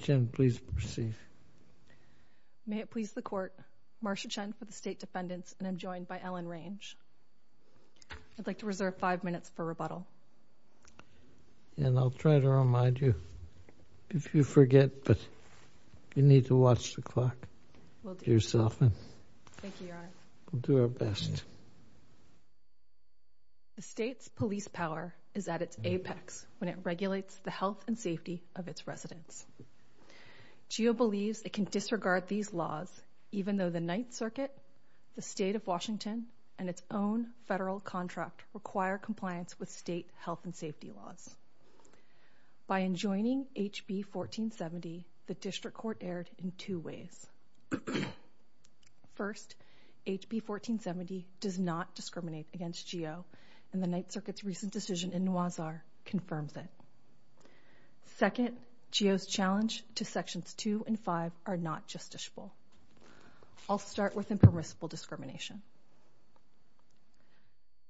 Marsha Chen, please proceed May it please the Court, Marsha Chen for the State Defendants and I'm joined by Ellen Range I'd like to reserve five minutes for rebuttal And I'll try to remind you, if you forget, but you need to watch the clock yourself Thank you, Your Honor We'll do our best The State's police power is at its apex when it regulates the health and safety of its residents GEO believes it can disregard these laws even though the Ninth Circuit, the State of Washington, and its own federal contract require compliance with state health and safety laws By enjoining HB 1470, the District Court erred in two ways First, HB 1470 does not discriminate against GEO, and the Ninth Circuit's recent decision in Nawazhar confirms it Second, GEO's challenge to Sections 2 and 5 are not justiciable I'll start with impermissible discrimination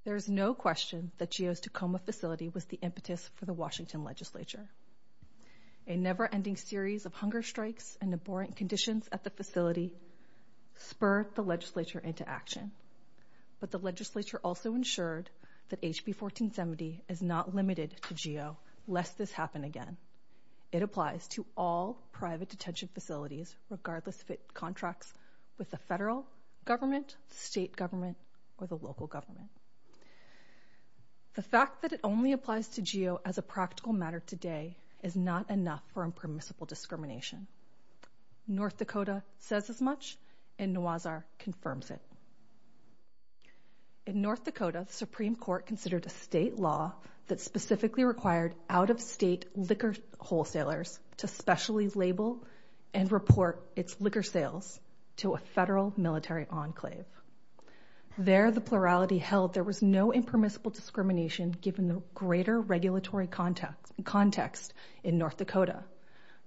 There is no question that GEO's Tacoma facility was the impetus for the Washington Legislature A never-ending series of hunger strikes and abhorrent conditions at the facility spurred the Legislature into action But the Legislature also ensured that HB 1470 is not limited to GEO, lest this happen again It applies to all private detention facilities, regardless if it contracts with the federal government, state government, or the local government The fact that it only applies to GEO as a practical matter today is not enough for impermissible discrimination North Dakota says as much, and Nawazhar confirms it In North Dakota, the Supreme Court considered a state law that specifically required out-of-state liquor wholesalers to specially label and report its liquor sales to a federal military enclave There, the plurality held there was no impermissible discrimination given the greater regulatory context in North Dakota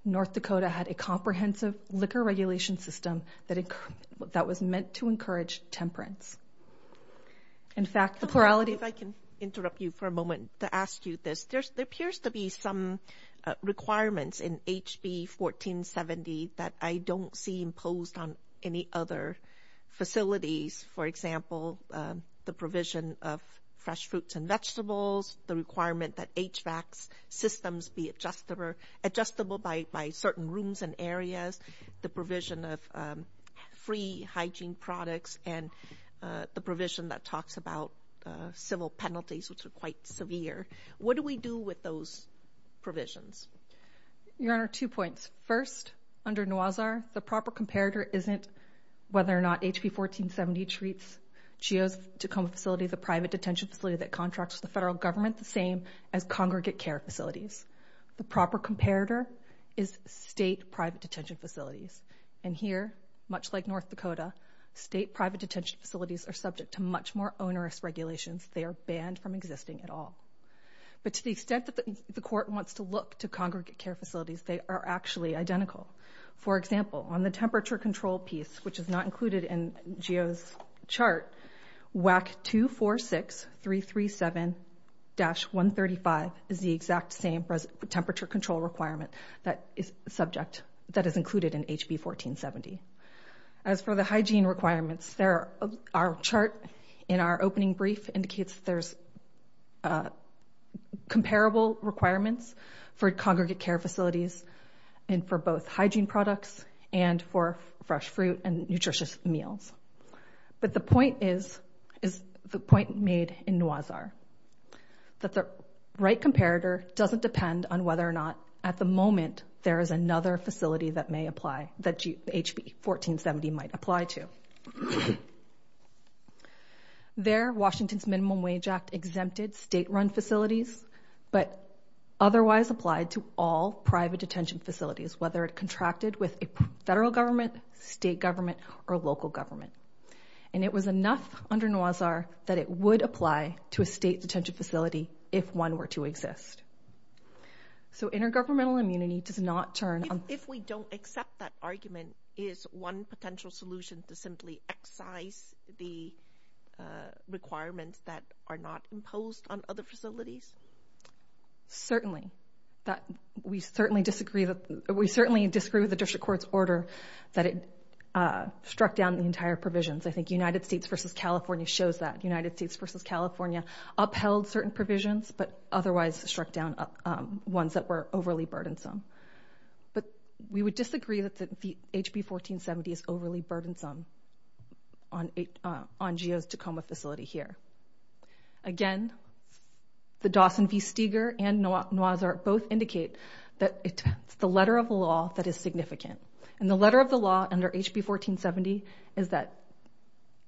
North Dakota had a comprehensive liquor regulation system that was meant to encourage temperance If I can interrupt you for a moment to ask you this There appears to be some requirements in HB 1470 that I don't see imposed on any other facilities For example, the provision of fresh fruits and vegetables, the requirement that HVAC systems be adjustable by certain rooms and areas The provision of free hygiene products and the provision that talks about civil penalties, which are quite severe What do we do with those provisions? Your Honor, two points First, under Nawazhar, the proper comparator isn't whether or not HB 1470 treats GEO's Tacoma facility, the private detention facility that contracts with the federal government, the same as congregate care facilities The proper comparator is state private detention facilities And here, much like North Dakota, state private detention facilities are subject to much more onerous regulations They are banned from existing at all But to the extent that the Court wants to look to congregate care facilities, they are actually identical For example, on the temperature control piece, which is not included in GEO's chart, WAC 246337-135 is the exact same temperature control requirement that is included in HB 1470 As for the hygiene requirements, our chart in our opening brief indicates there's comparable requirements for congregate care facilities and for both hygiene products and for fresh fruit and nutritious meals But the point is, the point made in Nawazhar, that the right comparator doesn't depend on whether or not, at the moment, there is another facility that may apply, that HB 1470 might apply to There, Washington's Minimum Wage Act exempted state-run facilities, but otherwise applied to all private detention facilities, whether it contracted with a federal government, state government, or local government And it was enough under Nawazhar that it would apply to a state detention facility if one were to exist So intergovernmental immunity does not turn on... If we don't accept that argument, is one potential solution to simply excise the requirements that are not imposed on other facilities? Certainly. We certainly disagree with the District Court's order that it struck down the entire provisions I think United States v. California shows that. United States v. California upheld certain provisions, but otherwise struck down ones that were overly burdensome But we would disagree that HB 1470 is overly burdensome on GEO's Tacoma facility here Again, the Dawson v. Steger and Nawazhar both indicate that it's the letter of the law that is significant And the letter of the law under HB 1470 is that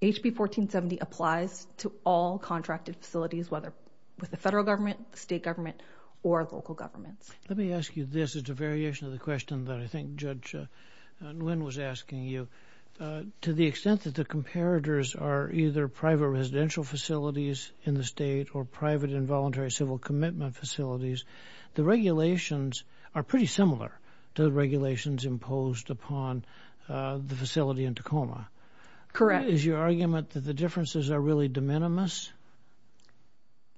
HB 1470 applies to all contracted facilities, whether with the federal government, the state government, or local governments Let me ask you this. It's a variation of the question that I think Judge Nguyen was asking you To the extent that the comparators are either private residential facilities in the state or private involuntary civil commitment facilities The regulations are pretty similar to the regulations imposed upon the facility in Tacoma Correct Is your argument that the differences are really de minimis?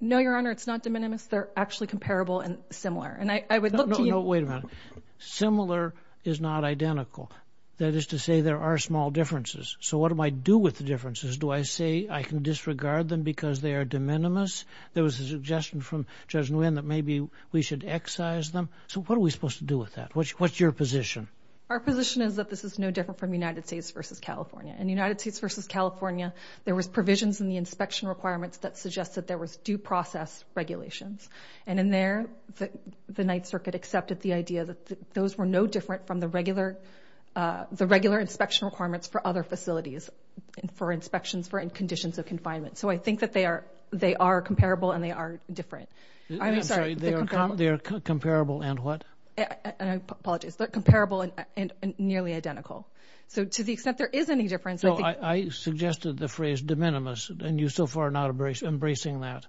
No, Your Honor, it's not de minimis. They're actually comparable and similar No, no, wait a minute. Similar is not identical. That is to say there are small differences So what do I do with the differences? Do I say I can disregard them because they are de minimis? There was a suggestion from Judge Nguyen that maybe we should excise them So what are we supposed to do with that? What's your position? Our position is that this is no different from United States v. California In United States v. California, there was provisions in the inspection requirements that suggested there was due process regulations And in there, the Ninth Circuit accepted the idea that those were no different from the regular inspection requirements for other facilities For inspections for conditions of confinement So I think that they are comparable and they are different I'm sorry, they are comparable and what? I apologize. They're comparable and nearly identical So to the extent there is any difference So I suggested the phrase de minimis and you so far are not embracing that?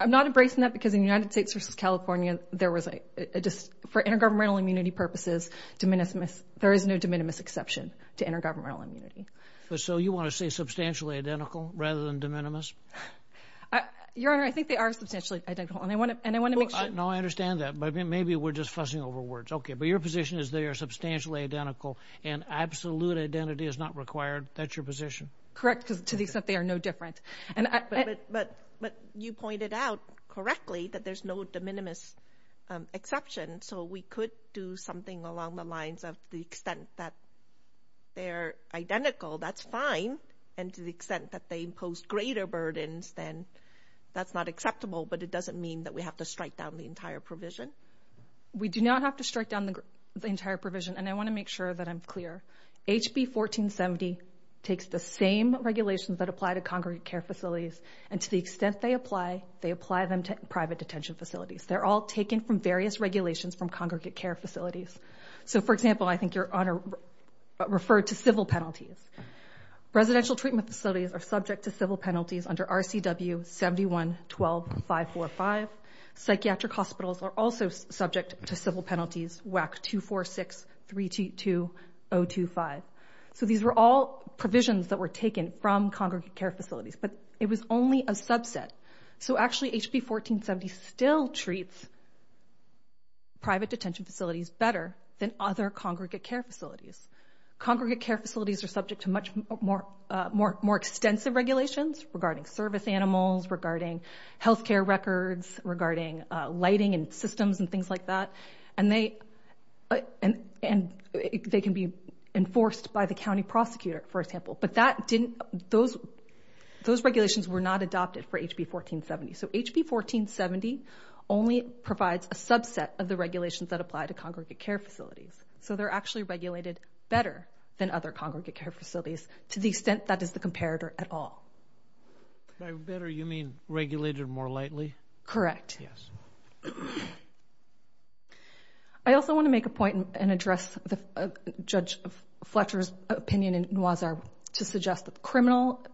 I'm not embracing that because in United States v. California, for intergovernmental immunity purposes, there is no de minimis exception to intergovernmental immunity So you want to say substantially identical rather than de minimis? Your Honor, I think they are substantially identical and I want to make sure No, I understand that, but maybe we're just fussing over words Okay, but your position is they are substantially identical and absolute identity is not required? That's your position? Correct, to the extent they are no different But you pointed out correctly that there's no de minimis exception So we could do something along the lines of the extent that they're identical, that's fine And to the extent that they impose greater burdens, then that's not acceptable But it doesn't mean that we have to strike down the entire provision We do not have to strike down the entire provision And I want to make sure that I'm clear HB 1470 takes the same regulations that apply to congregate care facilities And to the extent they apply, they apply them to private detention facilities They're all taken from various regulations from congregate care facilities So for example, I think your Honor referred to civil penalties Residential treatment facilities are subject to civil penalties under RCW 71-12-545 Psychiatric hospitals are also subject to civil penalties WAC 246-322-025 So these were all provisions that were taken from congregate care facilities But it was only a subset So actually HB 1470 still treats private detention facilities better than other congregate care facilities Congregate care facilities are subject to much more extensive regulations regarding service animals, regarding healthcare records, regarding lighting and systems and things like that And they can be enforced by the county prosecutor, for example But those regulations were not adopted for HB 1470 So HB 1470 only provides a subset of the regulations that apply to congregate care facilities So they're actually regulated better than other congregate care facilities to the extent that is the comparator at all By better, you mean regulated more lightly? Correct I also want to make a point and address Judge Fletcher's opinion in Noisar to suggest that criminal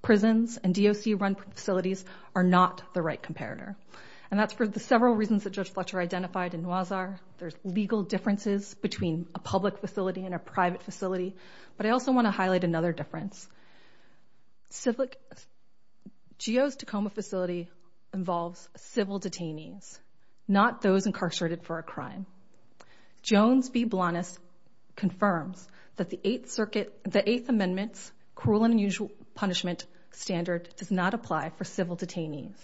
prisons and DOC-run facilities are not the right comparator And that's for the several reasons that Judge Fletcher identified in Noisar There's legal differences between a public facility and a private facility But I also want to highlight another difference Geo's Tacoma facility involves civil detainees, not those incarcerated for a crime Jones v. Blanas confirms that the Eighth Amendment's cruel and unusual punishment standard does not apply for civil detainees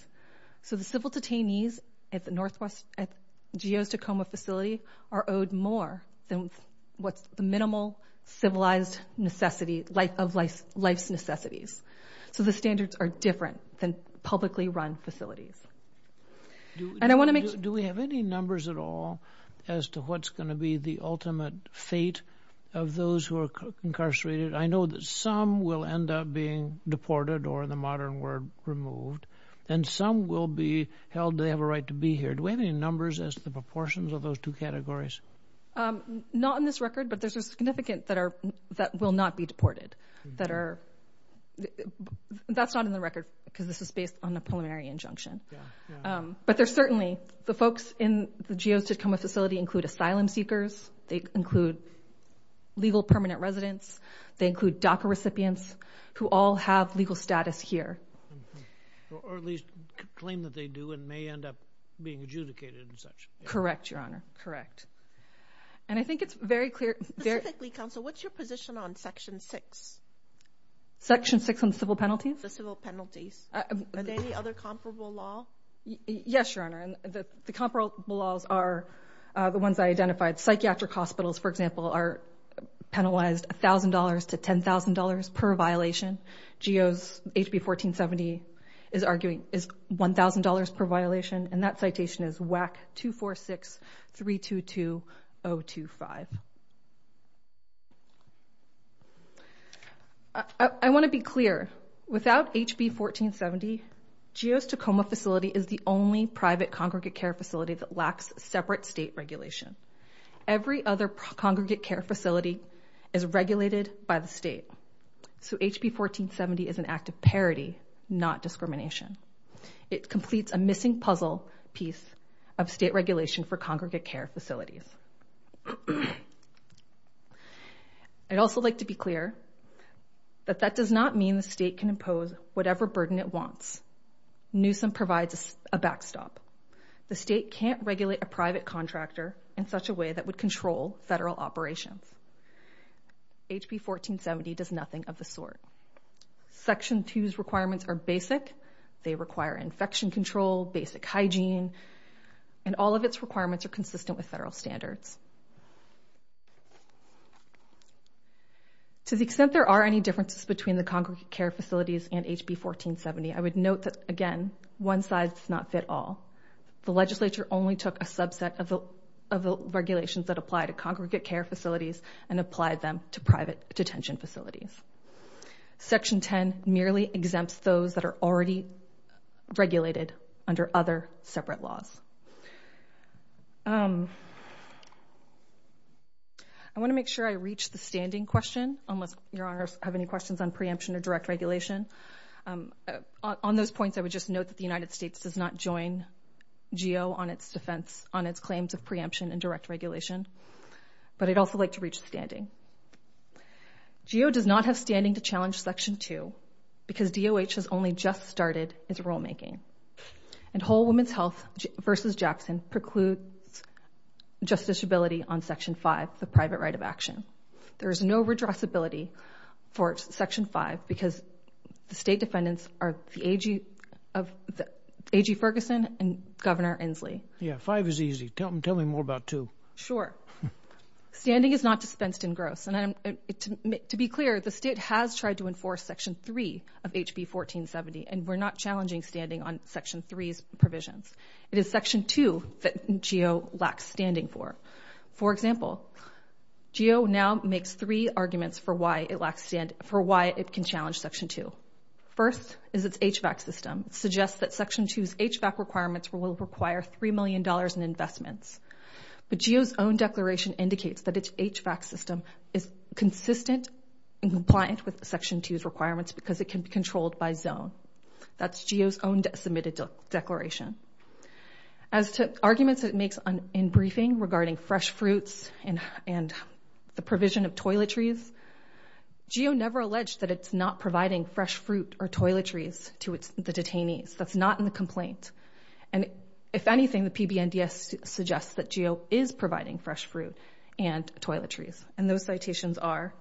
So the civil detainees at the Geo's Tacoma facility are owed more than what's the minimal civilized necessity of life's necessities So the standards are different than publicly run facilities Do we have any numbers at all as to what's going to be the ultimate fate of those who are incarcerated? I know that some will end up being deported, or in the modern word, removed And some will be held to have a right to be here Do we have any numbers as to the proportions of those two categories? Not in this record, but there's a significant that will not be deported That's not in the record, because this is based on a preliminary injunction But there's certainly, the folks in the Geo's Tacoma facility include asylum seekers They include legal permanent residents They include DACA recipients, who all have legal status here Or at least claim that they do, and may end up being adjudicated and such Correct, Your Honor, correct And I think it's very clear Specifically, Counsel, what's your position on Section 6? Section 6 on civil penalties? The civil penalties Are there any other comparable law? Yes, Your Honor, the comparable laws are the ones I identified Psychiatric hospitals, for example, are penalized $1,000 to $10,000 per violation Geo's HB 1470 is $1,000 per violation And that citation is WAC 246-322-025 I want to be clear, without HB 1470 Geo's Tacoma facility is the only private congregate care facility that lacks separate state regulation Every other congregate care facility is regulated by the state So HB 1470 is an act of parity, not discrimination It completes a missing puzzle piece of state regulation for congregate care facilities I'd also like to be clear That that does not mean the state can impose whatever burden it wants Newsom provides a backstop The state can't regulate a private contractor in such a way that would control federal operations HB 1470 does nothing of the sort Section 2's requirements are basic They require infection control, basic hygiene And all of its requirements are consistent with federal standards To the extent there are any differences between the congregate care facilities and HB 1470 I would note that, again, one size does not fit all The legislature only took a subset of the regulations that apply to congregate care facilities And applied them to private detention facilities Section 10 merely exempts those that are already regulated under other separate laws I want to make sure I reach the standing question Unless your honors have any questions on preemption or direct regulation On those points, I would just note that the United States does not join GEO on its defense On its claims of preemption and direct regulation But I'd also like to reach the standing GEO does not have standing to challenge Section 2 Because DOH has only just started its rulemaking And Whole Women's Health v. Jackson precludes justiciability on Section 5, the private right of action There is no redressability for Section 5 Because the state defendants are A.G. Ferguson and Governor Inslee Yeah, 5 is easy. Tell me more about 2 Sure. Standing is not dispensed in gross And to be clear, the state has tried to enforce Section 3 of HB 1470 And we're not challenging standing on Section 3's provisions It is Section 2 that GEO lacks standing for For example, GEO now makes three arguments for why it can challenge Section 2 First is its HVAC system It suggests that Section 2's HVAC requirements will require $3 million in investments But GEO's own declaration indicates that its HVAC system is consistent and compliant with Section 2's requirements Because it can be controlled by zone That's GEO's own submitted declaration As to arguments it makes in briefing regarding fresh fruits and the provision of toiletries GEO never alleged that it's not providing fresh fruit or toiletries to the detainees That's not in the complaint And if anything, the PB&DS suggests that GEO is providing fresh fruit and toiletries And those citations are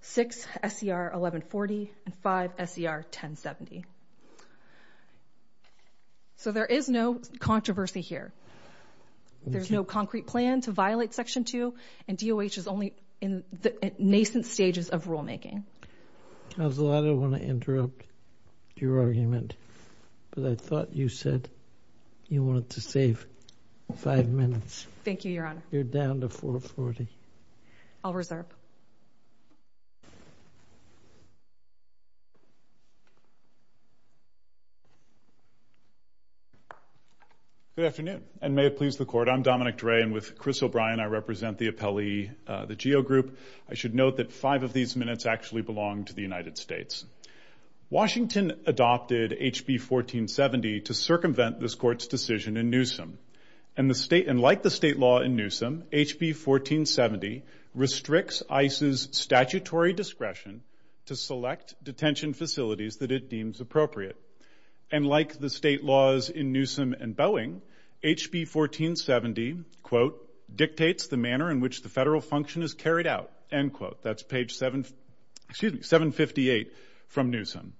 6 S.E.R. 1140 and 5 S.E.R. 1070 So there is no controversy here There's no concrete plan to violate Section 2 And DOH is only in the nascent stages of rulemaking I don't want to interrupt your argument But I thought you said you wanted to save five minutes Thank you, Your Honor You're down to 440 I'll reserve Good afternoon And may it please the Court I'm Dominic Dray And with Chris O'Brien, I represent the appellee, the GEO Group I should note that five of these minutes actually belong to the United States Washington adopted HB 1470 to circumvent this Court's decision in Newsom And like the state law in Newsom, HB 1470 restricts ICE's statutory discretion to select detention facilities that it deems appropriate And like the state laws in Newsom and Boeing HB 1470, quote, dictates the manner in which the federal function is carried out, end quote That's page 758 from Newsom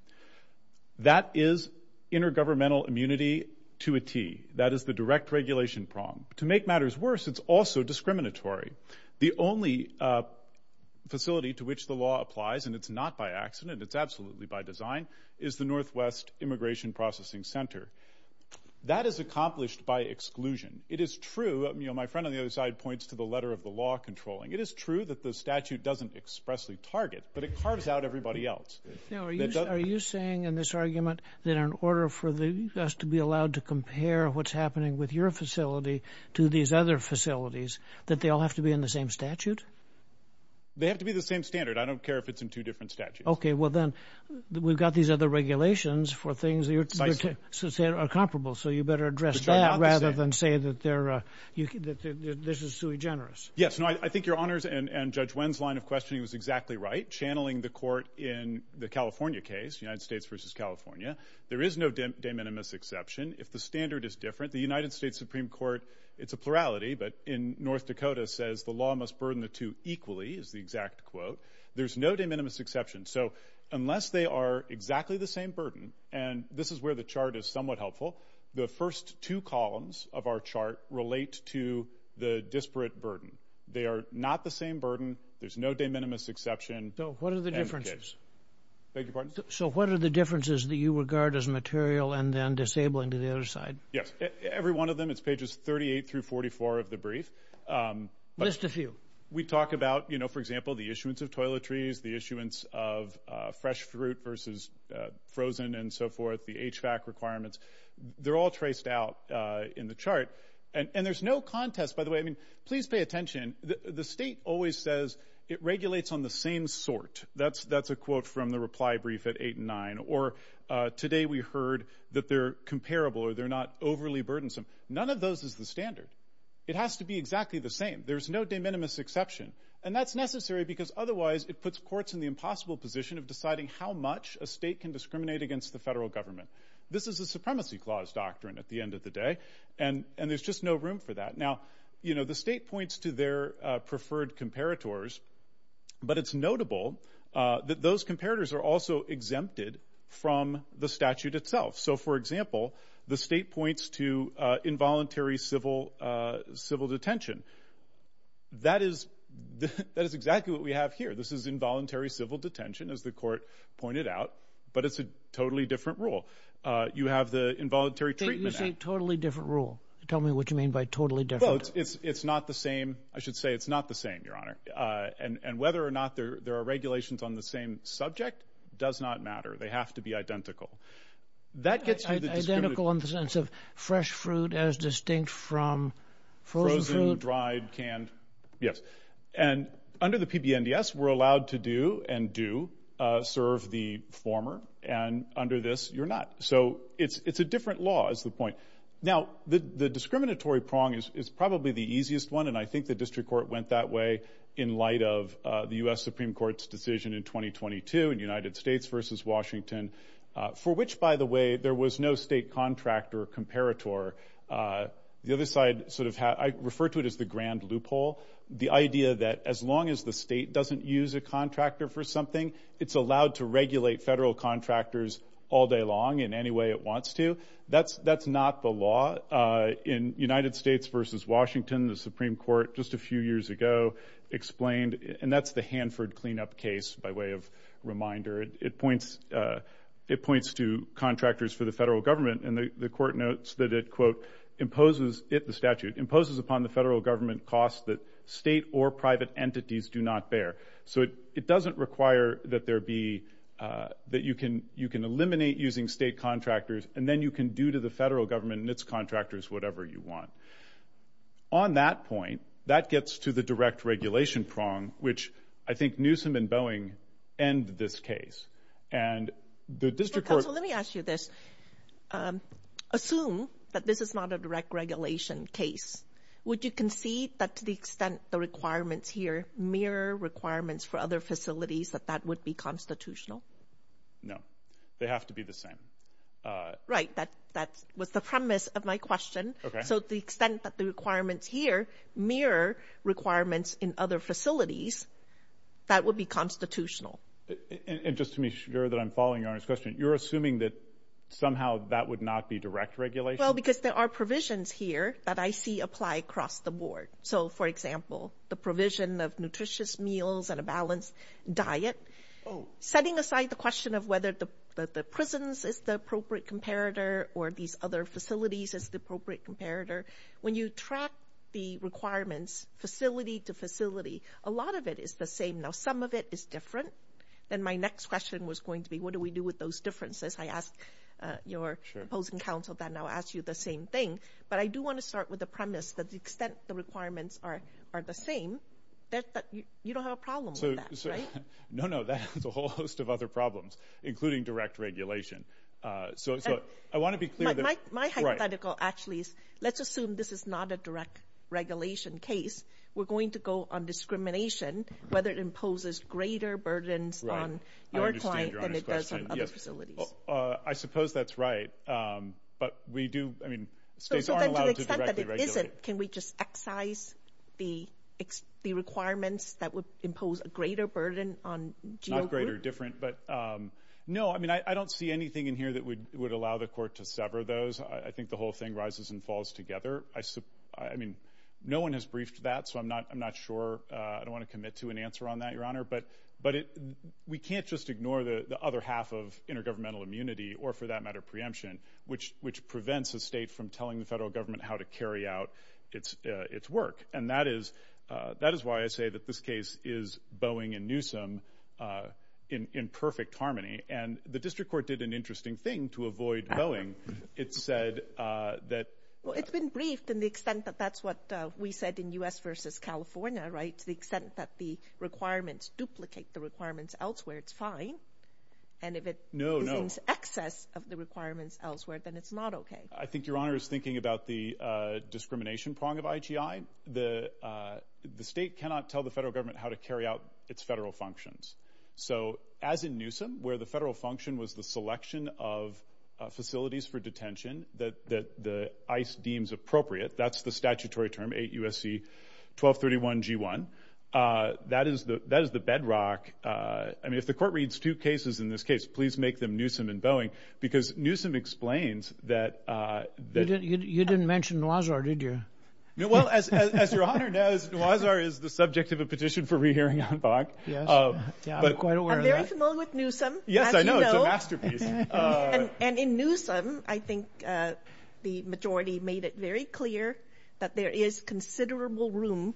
That is intergovernmental immunity to a T That is the direct regulation prong To make matters worse, it's also discriminatory The only facility to which the law applies And it's not by accident, it's absolutely by design Is the Northwest Immigration Processing Center That is accomplished by exclusion It is true, you know, my friend on the other side points to the letter of the law controlling It is true that the statute doesn't expressly target But it carves out everybody else Now, are you saying in this argument That in order for us to be allowed to compare what's happening with your facility To these other facilities, that they all have to be in the same statute? They have to be the same standard, I don't care if it's in two different statutes Okay, well then, we've got these other regulations For things that are comparable So you better address that rather than say that this is sui generis Yes, I think your honors and Judge Wen's line of questioning was exactly right Channeling the court in the California case, United States versus California There is no de minimis exception If the standard is different The United States Supreme Court, it's a plurality But in North Dakota says the law must burden the two equally Is the exact quote There's no de minimis exception So unless they are exactly the same burden And this is where the chart is somewhat helpful The first two columns of our chart relate to the disparate burden They are not the same burden There's no de minimis exception So what are the differences? So what are the differences that you regard as material And then disabling to the other side? Yes, every one of them, it's pages 38 through 44 of the brief List a few We talk about, you know, for example, the issuance of toiletries The issuance of fresh fruit versus frozen and so forth The HVAC requirements They're all traced out in the chart And there's no contest, by the way I mean, please pay attention The state always says it regulates on the same sort That's a quote from the reply brief at 8 and 9 Or today we heard that they're comparable Or they're not overly burdensome None of those is the standard It has to be exactly the same There's no de minimis exception And that's necessary because otherwise It puts courts in the impossible position of deciding How much a state can discriminate against the federal government This is a supremacy clause doctrine at the end of the day And there's just no room for that Now, you know, the state points to their preferred comparators But it's notable that those comparators are also exempted From the statute itself So, for example, the state points to involuntary civil detention That is exactly what we have here This is involuntary civil detention, as the court pointed out But it's a totally different rule You have the Involuntary Treatment Act You say totally different rule Tell me what you mean by totally different It's not the same I should say it's not the same, Your Honor And whether or not there are regulations on the same subject Does not matter They have to be identical Identical in the sense of fresh fruit As distinct from frozen fruit Frozen, dried, canned Yes And under the PBNDS, we're allowed to do And do serve the former And under this, you're not So it's a different law, is the point Now, the discriminatory prong is probably the easiest one And I think the district court went that way In light of the U.S. Supreme Court's decision in 2022 In United States versus Washington For which, by the way, there was no state contractor comparator The other side sort of had I refer to it as the grand loophole The idea that as long as the state Doesn't use a contractor for something It's allowed to regulate federal contractors All day long in any way it wants to That's not the law In United States versus Washington The Supreme Court just a few years ago Explained, and that's the Hanford cleanup case By way of reminder It points to contractors for the federal government And the court notes that it, quote Imposes, it, the statute Imposes upon the federal government Costs that state or private entities do not bear So it doesn't require that there be That you can eliminate using state contractors And then you can do to the federal government And its contractors whatever you want On that point, that gets to the direct regulation prong Which I think Newsom and Boeing end this case And the district court Counsel, let me ask you this Assume that this is not a direct regulation case Would you concede that to the extent The requirements here mirror requirements For other facilities that that would be constitutional? No, they have to be the same Right, that was the premise of my question So to the extent that the requirements here Mirror requirements in other facilities That would be constitutional And just to be sure that I'm following Your Honor's question You're assuming that somehow That would not be direct regulation? Well, because there are provisions here That I see apply across the board So, for example, the provision of nutritious meals And a balanced diet Setting aside the question of whether The prisons is the appropriate comparator Or these other facilities Is the appropriate comparator When you track the requirements Facility to facility A lot of it is the same Now, some of it is different Then my next question was going to be What do we do with those differences? I ask your opposing counsel Then I'll ask you the same thing But I do want to start with the premise That the extent the requirements are the same You don't have a problem with that, right? No, no, that has a whole host of other problems Including direct regulation So, I want to be clear My hypothetical actually is Let's assume this is not a direct regulation case We're going to go on discrimination Whether it imposes greater burdens On your client Than it does on other facilities I suppose that's right But we do, I mean States aren't allowed to directly regulate To the extent that it isn't Can we just excise the requirements That would impose a greater burden On geogroup? Not greater, different No, I mean, I don't see anything in here That would allow the court to sever those I think the whole thing rises and falls together I mean, no one has briefed that So I'm not sure I don't want to commit to an answer on that, Your Honor But we can't just ignore The other half of intergovernmental immunity Or for that matter, preemption Which prevents a state From telling the federal government How to carry out its work And that is why I say That this case is Boeing and Newsom In perfect harmony And the district court did an interesting thing To avoid Boeing It said that Well, it's been briefed In the extent that that's what We said in U.S. versus California, right? To the extent that the requirements Duplicate the requirements elsewhere It's fine And if it No, no Excess of the requirements elsewhere Then it's not okay I think Your Honor is thinking about The discrimination prong of IGI The state cannot tell the federal government How to carry out its federal functions So as in Newsom Where the federal function was the selection of Facilities for detention That the ICE deems appropriate That's the statutory term 8 U.S.C. 1231 G1 That is the bedrock I mean, if the court reads two cases in this case Please make them Newsom and Boeing Because Newsom explains that You didn't mention Nuazzar, did you? No, well, as Your Honor knows Nuazzar is the subject of a petition for Rehearing on Bach I'm quite aware of that I'm very familiar with Newsom Yes, I know, it's a masterpiece And in Newsom, I think The majority made it very clear That there is considerable room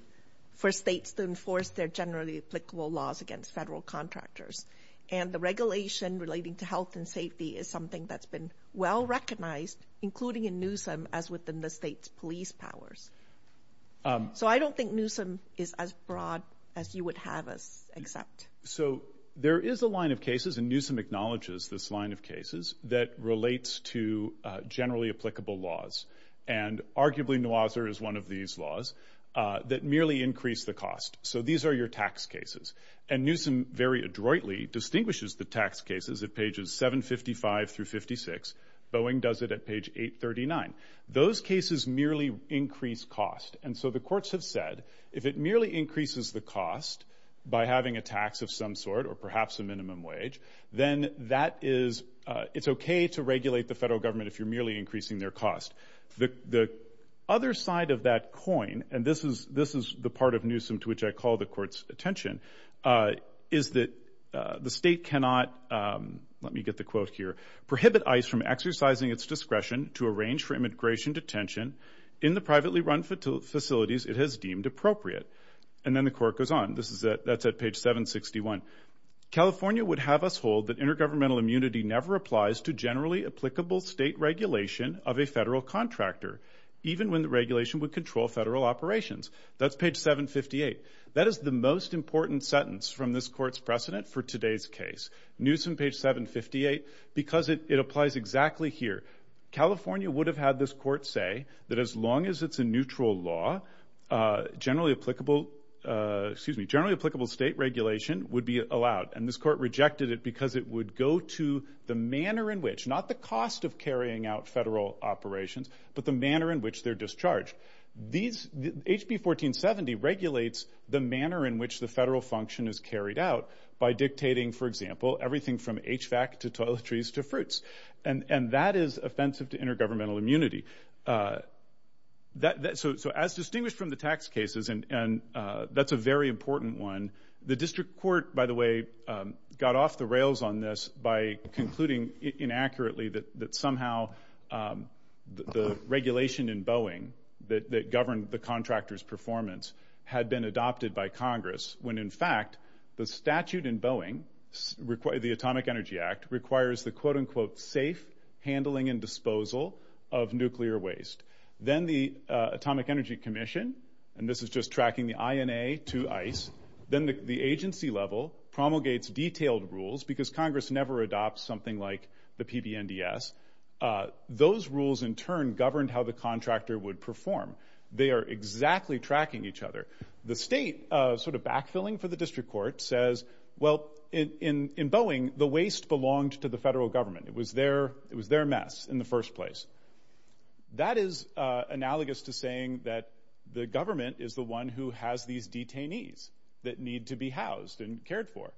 For states to enforce Their generally applicable laws Against federal contractors And the regulation relating to health and safety Is something that's been well recognized Including in Newsom As within the state's police powers So I don't think Newsom is as broad As you would have us accept So there is a line of cases And Newsom acknowledges this line of cases That relates to generally applicable laws And arguably, Nuazzar is one of these laws That merely increase the cost So these are your tax cases And Newsom very adroitly Distinguishes the tax cases At pages 755 through 56 Boeing does it at page 839 Those cases merely increase cost And so the courts have said If it merely increases the cost By having a tax of some sort Or perhaps a minimum wage Then that is It's okay to regulate the federal government If you're merely increasing their cost The other side of that coin And this is the part of Newsom To which I call the court's attention Is that the state cannot Let me get the quote here Prohibit ICE from exercising its discretion To arrange for immigration detention In the privately run facilities It has deemed appropriate And then the court goes on That's at page 761 California would have us hold That intergovernmental immunity Never applies to generally applicable State regulation of a federal contractor Even when the regulation Would control federal operations That's page 758 That is the most important sentence From this court's precedent For today's case Newsom, page 758 Because it applies exactly here California would have had this court say That as long as it's a neutral law Generally applicable Excuse me Generally applicable state regulation Would be allowed And this court rejected it Because it would go to The manner in which Not the cost of carrying out Federal operations But the manner in which they're discharged These HB 1470 regulates The manner in which The federal function is carried out By dictating, for example Everything from HVAC to toiletries to fruits And that is offensive To intergovernmental immunity So as distinguished from the tax cases And that's a very important one The district court, by the way Got off the rails on this By concluding inaccurately That somehow The regulation in Boeing That governed the contractor's performance Had been adopted by Congress When in fact The statute in Boeing The Atomic Energy Act Requires the quote-unquote Safe handling and disposal Of nuclear waste Then the Atomic Energy Commission And this is just tracking the INA to ICE Then the agency level Promulgates detailed rules Because Congress never adopts Something like the PBNDS Those rules in turn Governed how the contractor would perform They are exactly tracking each other The state, sort of backfilling For the district court Says, well, in Boeing The waste belonged to the federal government It was their mess in the first place That is analogous to saying That the government is the one Who has these detainees That need to be housed and cared for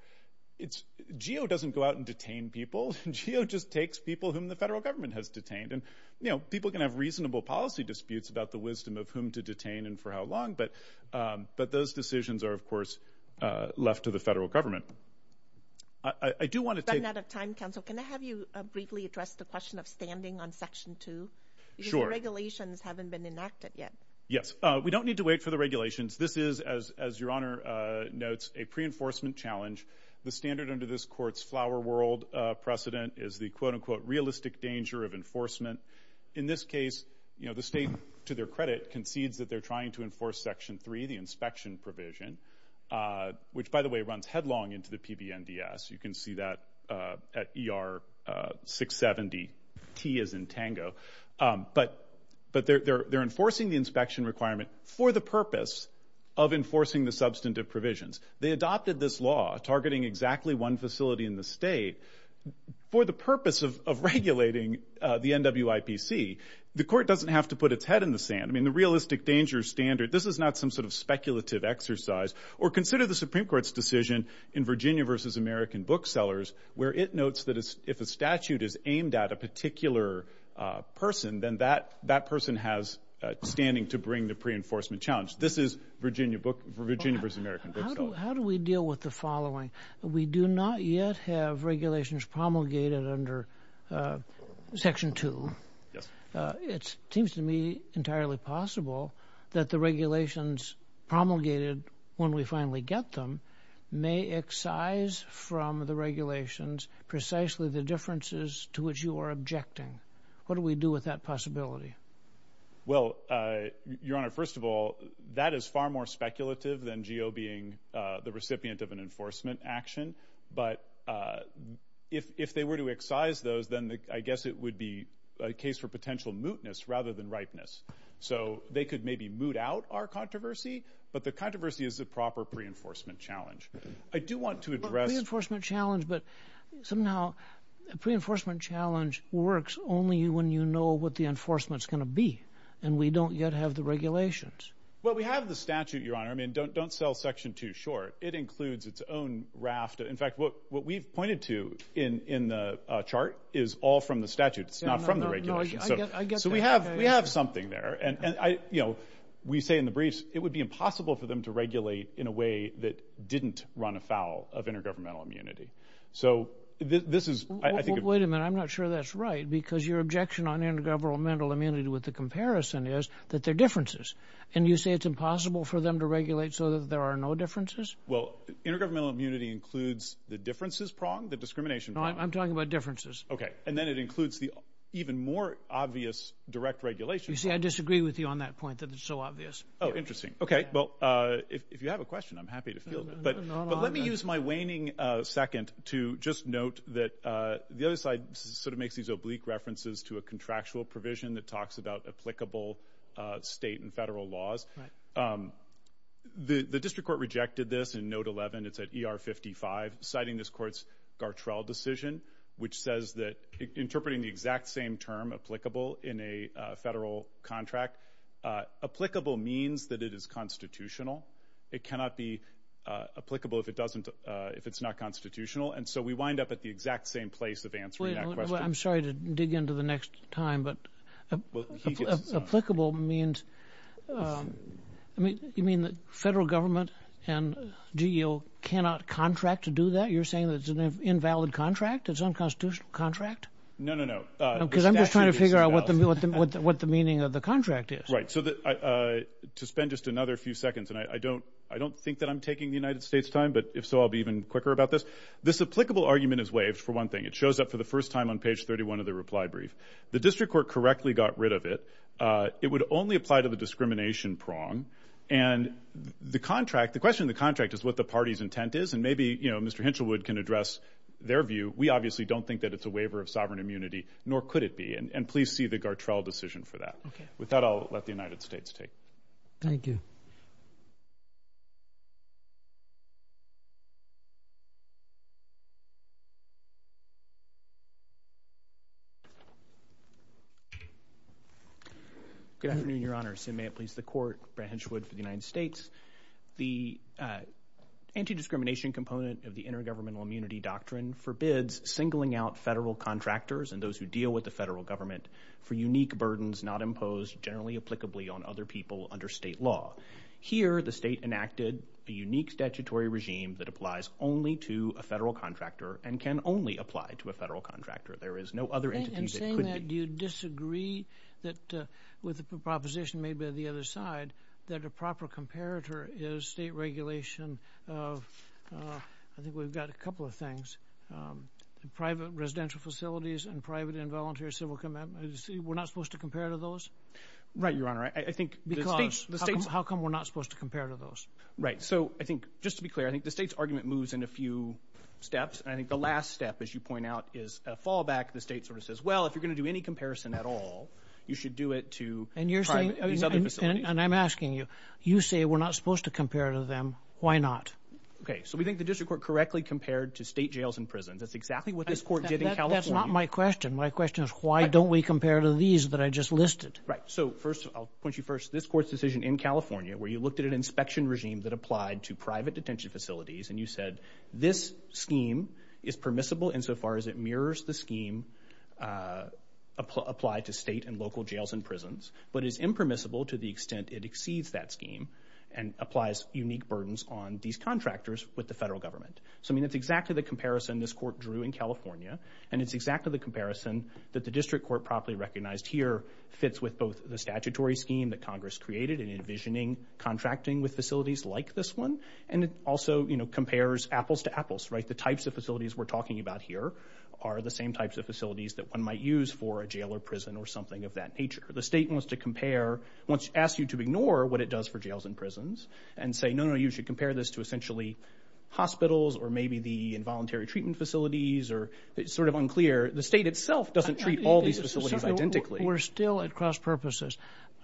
GEO doesn't go out and detain people GEO just takes people Whom the federal government has detained And, you know, people can have Reasonable policy disputes About the wisdom of whom to detain And for how long But those decisions are, of course Left to the federal government I do want to take... We're running out of time, counsel Can I have you briefly address The question of standing on Section 2? Sure Because the regulations Haven't been enacted yet Yes, we don't need to wait For the regulations This is, as Your Honor notes A pre-enforcement challenge The standard under this court's Flower world precedent Is the, quote-unquote Realistic danger of enforcement In this case, you know, the state To their credit concedes That they're trying to enforce Section 3 The inspection provision Which, by the way, runs headlong Into the PBNDS You can see that at ER 670 T as in tango But they're enforcing The inspection requirement For the purpose of enforcing The substantive provisions They adopted this law Targeting exactly one facility In the state For the purpose of regulating The NWIPC The court doesn't have to put Its head in the sand I mean, the realistic danger standard This is not some sort of Speculative exercise Or consider the Supreme Court's decision In Virginia v. American booksellers Where it notes that If a statute is aimed At a particular person Then that person has standing To bring the pre-enforcement challenge This is Virginia v. American booksellers How do we deal with the following? We do not yet have regulations Promulgated under Section 2 It seems to me entirely possible That the regulations promulgated When we finally get them May excise from the regulations Precisely the differences To which you are objecting What do we do with that possibility? Well, Your Honor, first of all That is far more speculative Than G.O. being the recipient Of an enforcement action But if they were to excise those Then I guess it would be A case for potential mootness Rather than ripeness So they could maybe moot out Our controversy But the controversy Is the proper pre-enforcement challenge I do want to address Well, pre-enforcement challenge But somehow A pre-enforcement challenge Works only when you know What the enforcement's going to be And we don't yet have the regulations Well, we have the statute, Your Honor I mean, don't sell Section 2 short It includes its own raft In fact, what we've pointed to In the chart Is all from the statute It's not from the regulations So we have something there And, you know, we say in the briefs That it would be impossible For them to regulate In a way that didn't run afoul Of intergovernmental immunity So this is, I think Well, wait a minute I'm not sure that's right Because your objection On intergovernmental immunity With the comparison is That there are differences And you say it's impossible For them to regulate So that there are no differences? Well, intergovernmental immunity Includes the differences prong The discrimination prong No, I'm talking about differences Okay, and then it includes The even more obvious direct regulation You see, I disagree with you On that point That it's so obvious Oh, interesting Okay, well If you have a question I'm happy to field it But let me use my waning second To just note that The other side sort of makes These oblique references To a contractual provision That talks about Applicable state and federal laws The district court rejected this In note 11 It's at ER 55 Citing this court's Gartrell decision Which says that Interpreting the exact same term Applicable in a federal contract Applicable means that It is constitutional It cannot be applicable If it's not constitutional And so we wind up At the exact same place Of answering that question Well, I'm sorry to dig Into the next time But applicable means You mean the federal government And GEO cannot contract To do that? You're saying that It's an invalid contract? It's an unconstitutional contract? No, no, no Because I'm just trying To figure out What the meaning Of the contract is Right So to spend Just another few seconds And I don't think That I'm taking The United States time But if so I'll be even quicker about this This applicable argument Is waived for one thing It shows up for the first time On page 31 Of the reply brief The district court Correctly got rid of it It would only apply To the discrimination prong And the contract The question of the contract Is what the party's intent is And maybe, you know Mr. Hinchelwood Can address their view We obviously don't think That it's a waiver Of sovereign immunity Nor could it be And please see The Gartrell decision for that Okay With that I'll let The United States take Thank you Good afternoon, your honor And may it please the court Brian Hinchelwood For the United States The anti-discrimination component Of the intergovernmental Immunity doctrine Forbids singling out Federal contractors And those who are Who deal with The federal government For unique burdens Not imposed Generally applicably On other people Under state law Here the state enacted A unique statutory regime That applies only To a federal contractor And can only apply To a federal contractor There is no other Entity that could be And saying that Do you disagree That with the proposition Made by the other side That a proper comparator Is state regulation Of, I think we've got A couple of things Private residential facilities And private and Voluntary civil We're not supposed To compare to those Right, your honor I think Because How come we're not Supposed to compare to those Right, so I think Just to be clear I think the state's argument Moves in a few steps And I think the last step As you point out Is a fallback The state sort of says Well, if you're going To do any comparison at all You should do it to These other facilities And I'm asking you You say we're not Supposed to compare to them Why not Okay, so we think The district court Correctly compared To state jails and prisons That's exactly what This court did in California That's not my question My question is Why don't we compare To these that I just listed Right, so first I'll point you first This court's decision In California Where you looked at An inspection regime That applied to Private detention facilities And you said This scheme Is permissible Insofar as it mirrors The scheme Applied to state And local jails and prisons But is impermissible To the extent It exceeds that scheme And applies unique burdens On these contractors With the federal government So I mean It's exactly the comparison This court drew In California And it's exactly The comparison That the district court Properly recognized here Fits with both The statutory scheme That Congress created In envisioning Contracting with facilities Like this one And it also You know Compares apples to apples Right, the types of facilities We're talking about here Are the same types Of facilities That one might use For a jail or prison Or something of that nature The state wants to compare Wants to ask you To ignore What it does For jails and prisons And say No, no, no You should compare this To essentially Hospitals Or maybe The involuntary Treatment facilities Or it's sort of unclear The state itself Doesn't treat All these facilities Identically We're still At cross purposes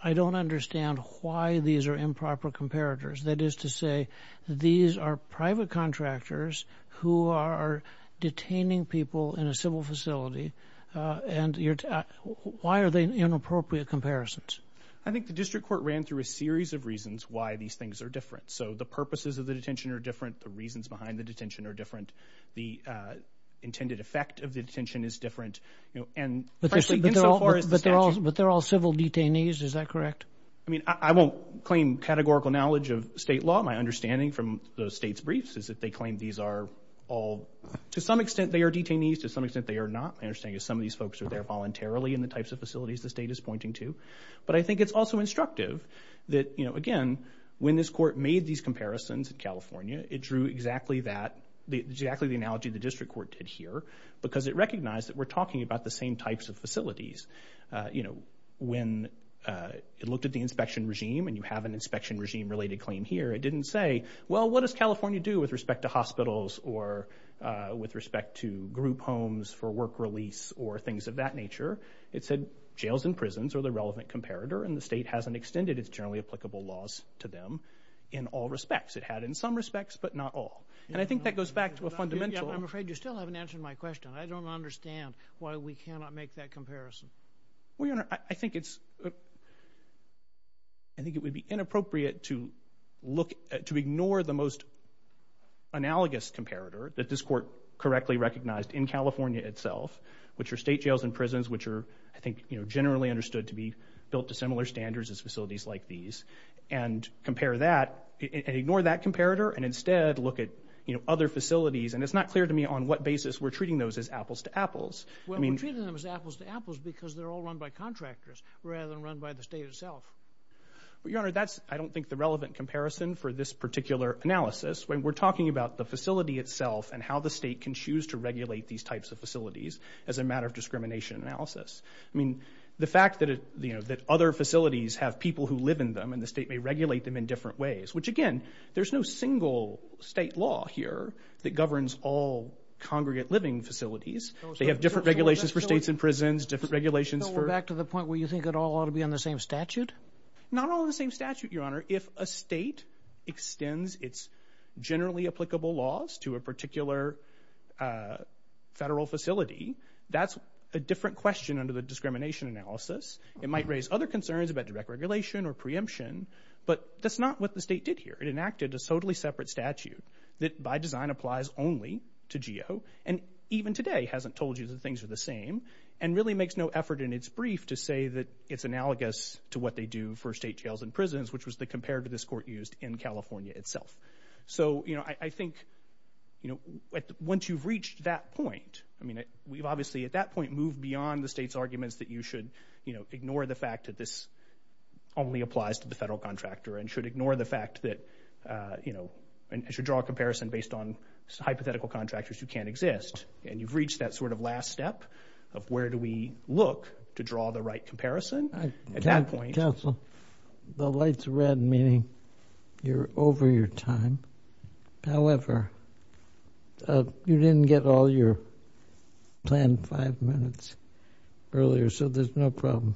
I don't understand Why these are Improper comparators That is to say These are private contractors Who are Detaining people In a civil facility And you're Why are they Inappropriate comparisons? I think The district court Ran through a series Of reasons Why these things Are different So the purposes Of the detention Are different The reasons behind The detention Are different The intended Effect of the detention Is different And But they're all Civil detainees Is that correct? I won't Claim categorical Knowledge of state law My understanding From the state's briefs Is that they claim These are all To some extent They are detainees To some extent They are not My understanding Is some of these folks Are there voluntarily In the types of Facilities the state Is pointing to But I think It's also instructive That you know Again When this court Made these comparisons In California It drew exactly The analogy The district court Did here Because it recognized That we're talking About the same Types of facilities You know When It looked at The inspection regime And you have An inspection regime Related claim here It didn't say Well what does California do With respect to hospitals Or With respect to Group homes For work release Or things of that nature It said Jails and prisons Are the relevant comparator And the state hasn't Extended its generally Applicable laws To them In all respects It had in some respects But not all And I think That goes back To a fundamental I'm afraid You still haven't Answered my question I don't understand Why we cannot Make that comparison I think It's I think It would be Analogous comparator That this court Correctly recognized In California itself Which are State jails and prisons Which are I think You know Generally understood To be built To similar standards As facilities like these And compare that And ignore that comparator And instead Look at You know Other facilities And it's not clear to me On what basis We're treating those As apples to apples Well we're treating Them as apples to apples Because they're all Run by contractors Rather than run By the state itself Well your honor That's I don't think The relevant comparison For this particular Analysis When we're talking About the facility Itself And how the state Can choose To regulate These types of As a matter Of discrimination Analysis I mean The fact that You know That other Facilities Have people Who live in them And the state May regulate Them in different Ways Which again There's no Single State law Here That governs All congregate Living facilities They have Different regulations For states And prisons Different regulations For So we're back To the point Where you think It all ought To be on The same Statute Not on The same Statute Your honor If a state Extends It's Generally Applicable laws To a Particular Federal Facility That's A different Question Under the Discrimination Analysis It might Raise other Concerns About direct Regulation Or preemption But that's Not what The state Did here It enacted A totally Separate Statute That by Design Applies only To GEO And even Today hasn't Told you That things Are the Same And really Makes no Effort In its Brief To say That it's Analogous To what They do For state Jails and Prisons Which was Compared to This court Used in California Itself So I Think Once you've That point I mean We've obviously At that point Moved beyond The state's Arguments That you Should Ignore The fact That this Only applies To the Federal Contractor And should Ignore The fact That It should Draw a Based on Hypothetical Contractors Who can't Exist And you've Reached That sort Of last Step Of where Do we Look To draw The right Comparison At that Point Counsel The light's Red Meaning You're Over Your Time However You didn't Get all Your Planned Five Minutes Earlier So there's No problem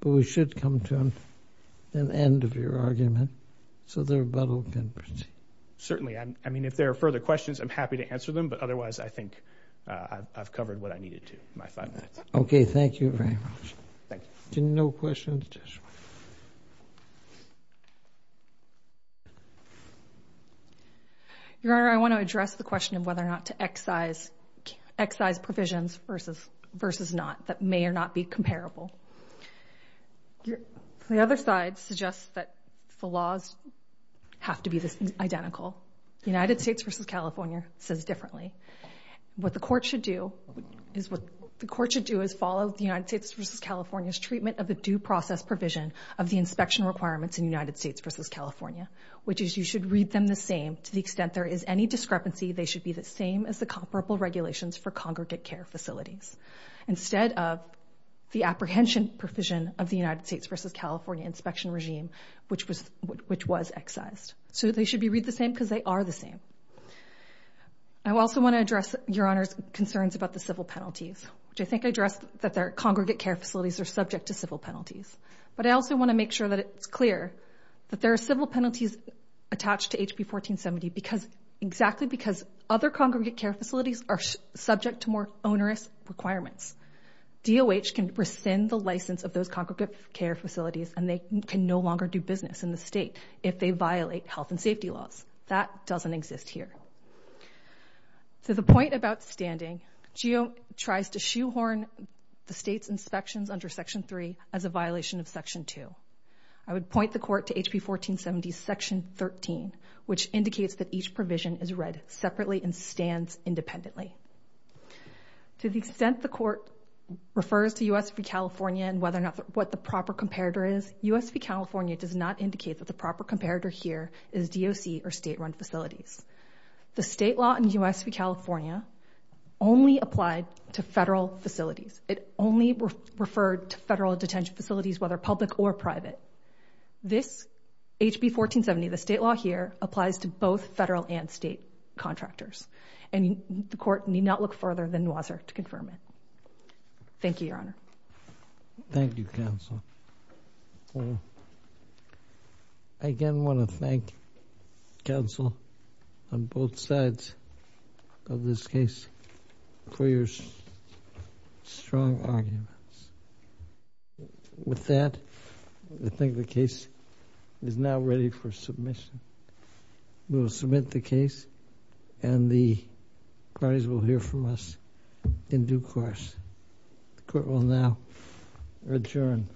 But we should Come to An end Of your Argument So the rebuttal Can proceed Certainly I mean If there are Further questions I'm happy To answer Them but Otherwise I think I've Covered What I Needed To My Five Minutes Okay Thank You Very Much Thank You No questions Just Your Honor I want To address The question Of whether Or not To excise Excise Provisions Versus Versus Not That may Or not Be Comparable The other Side Suggests That The laws Have to Be Identical United States Versus California Says Differently What The court Should do Is follow The United States Versus California Treatment Of the Due Process Provision Of the Inspection Requirements In United States Versus California Which Is You I Also Want To Address Your Honor's Concerns About Civil Penalties But I Also Want To Make Sure That It That There Are Civil Penalties Attached To State Exist Here To Point About Standing She Tries To Shoe Horn The State Inspections Under Section 3 As A Violation Of Section 2 I Am To Point About Standing She Tries To Shoe Horn The State Inspections Violation Here To Point About Standing She Again Here To Point About Standing She Tries In Due Course The Court Will Now Adjourn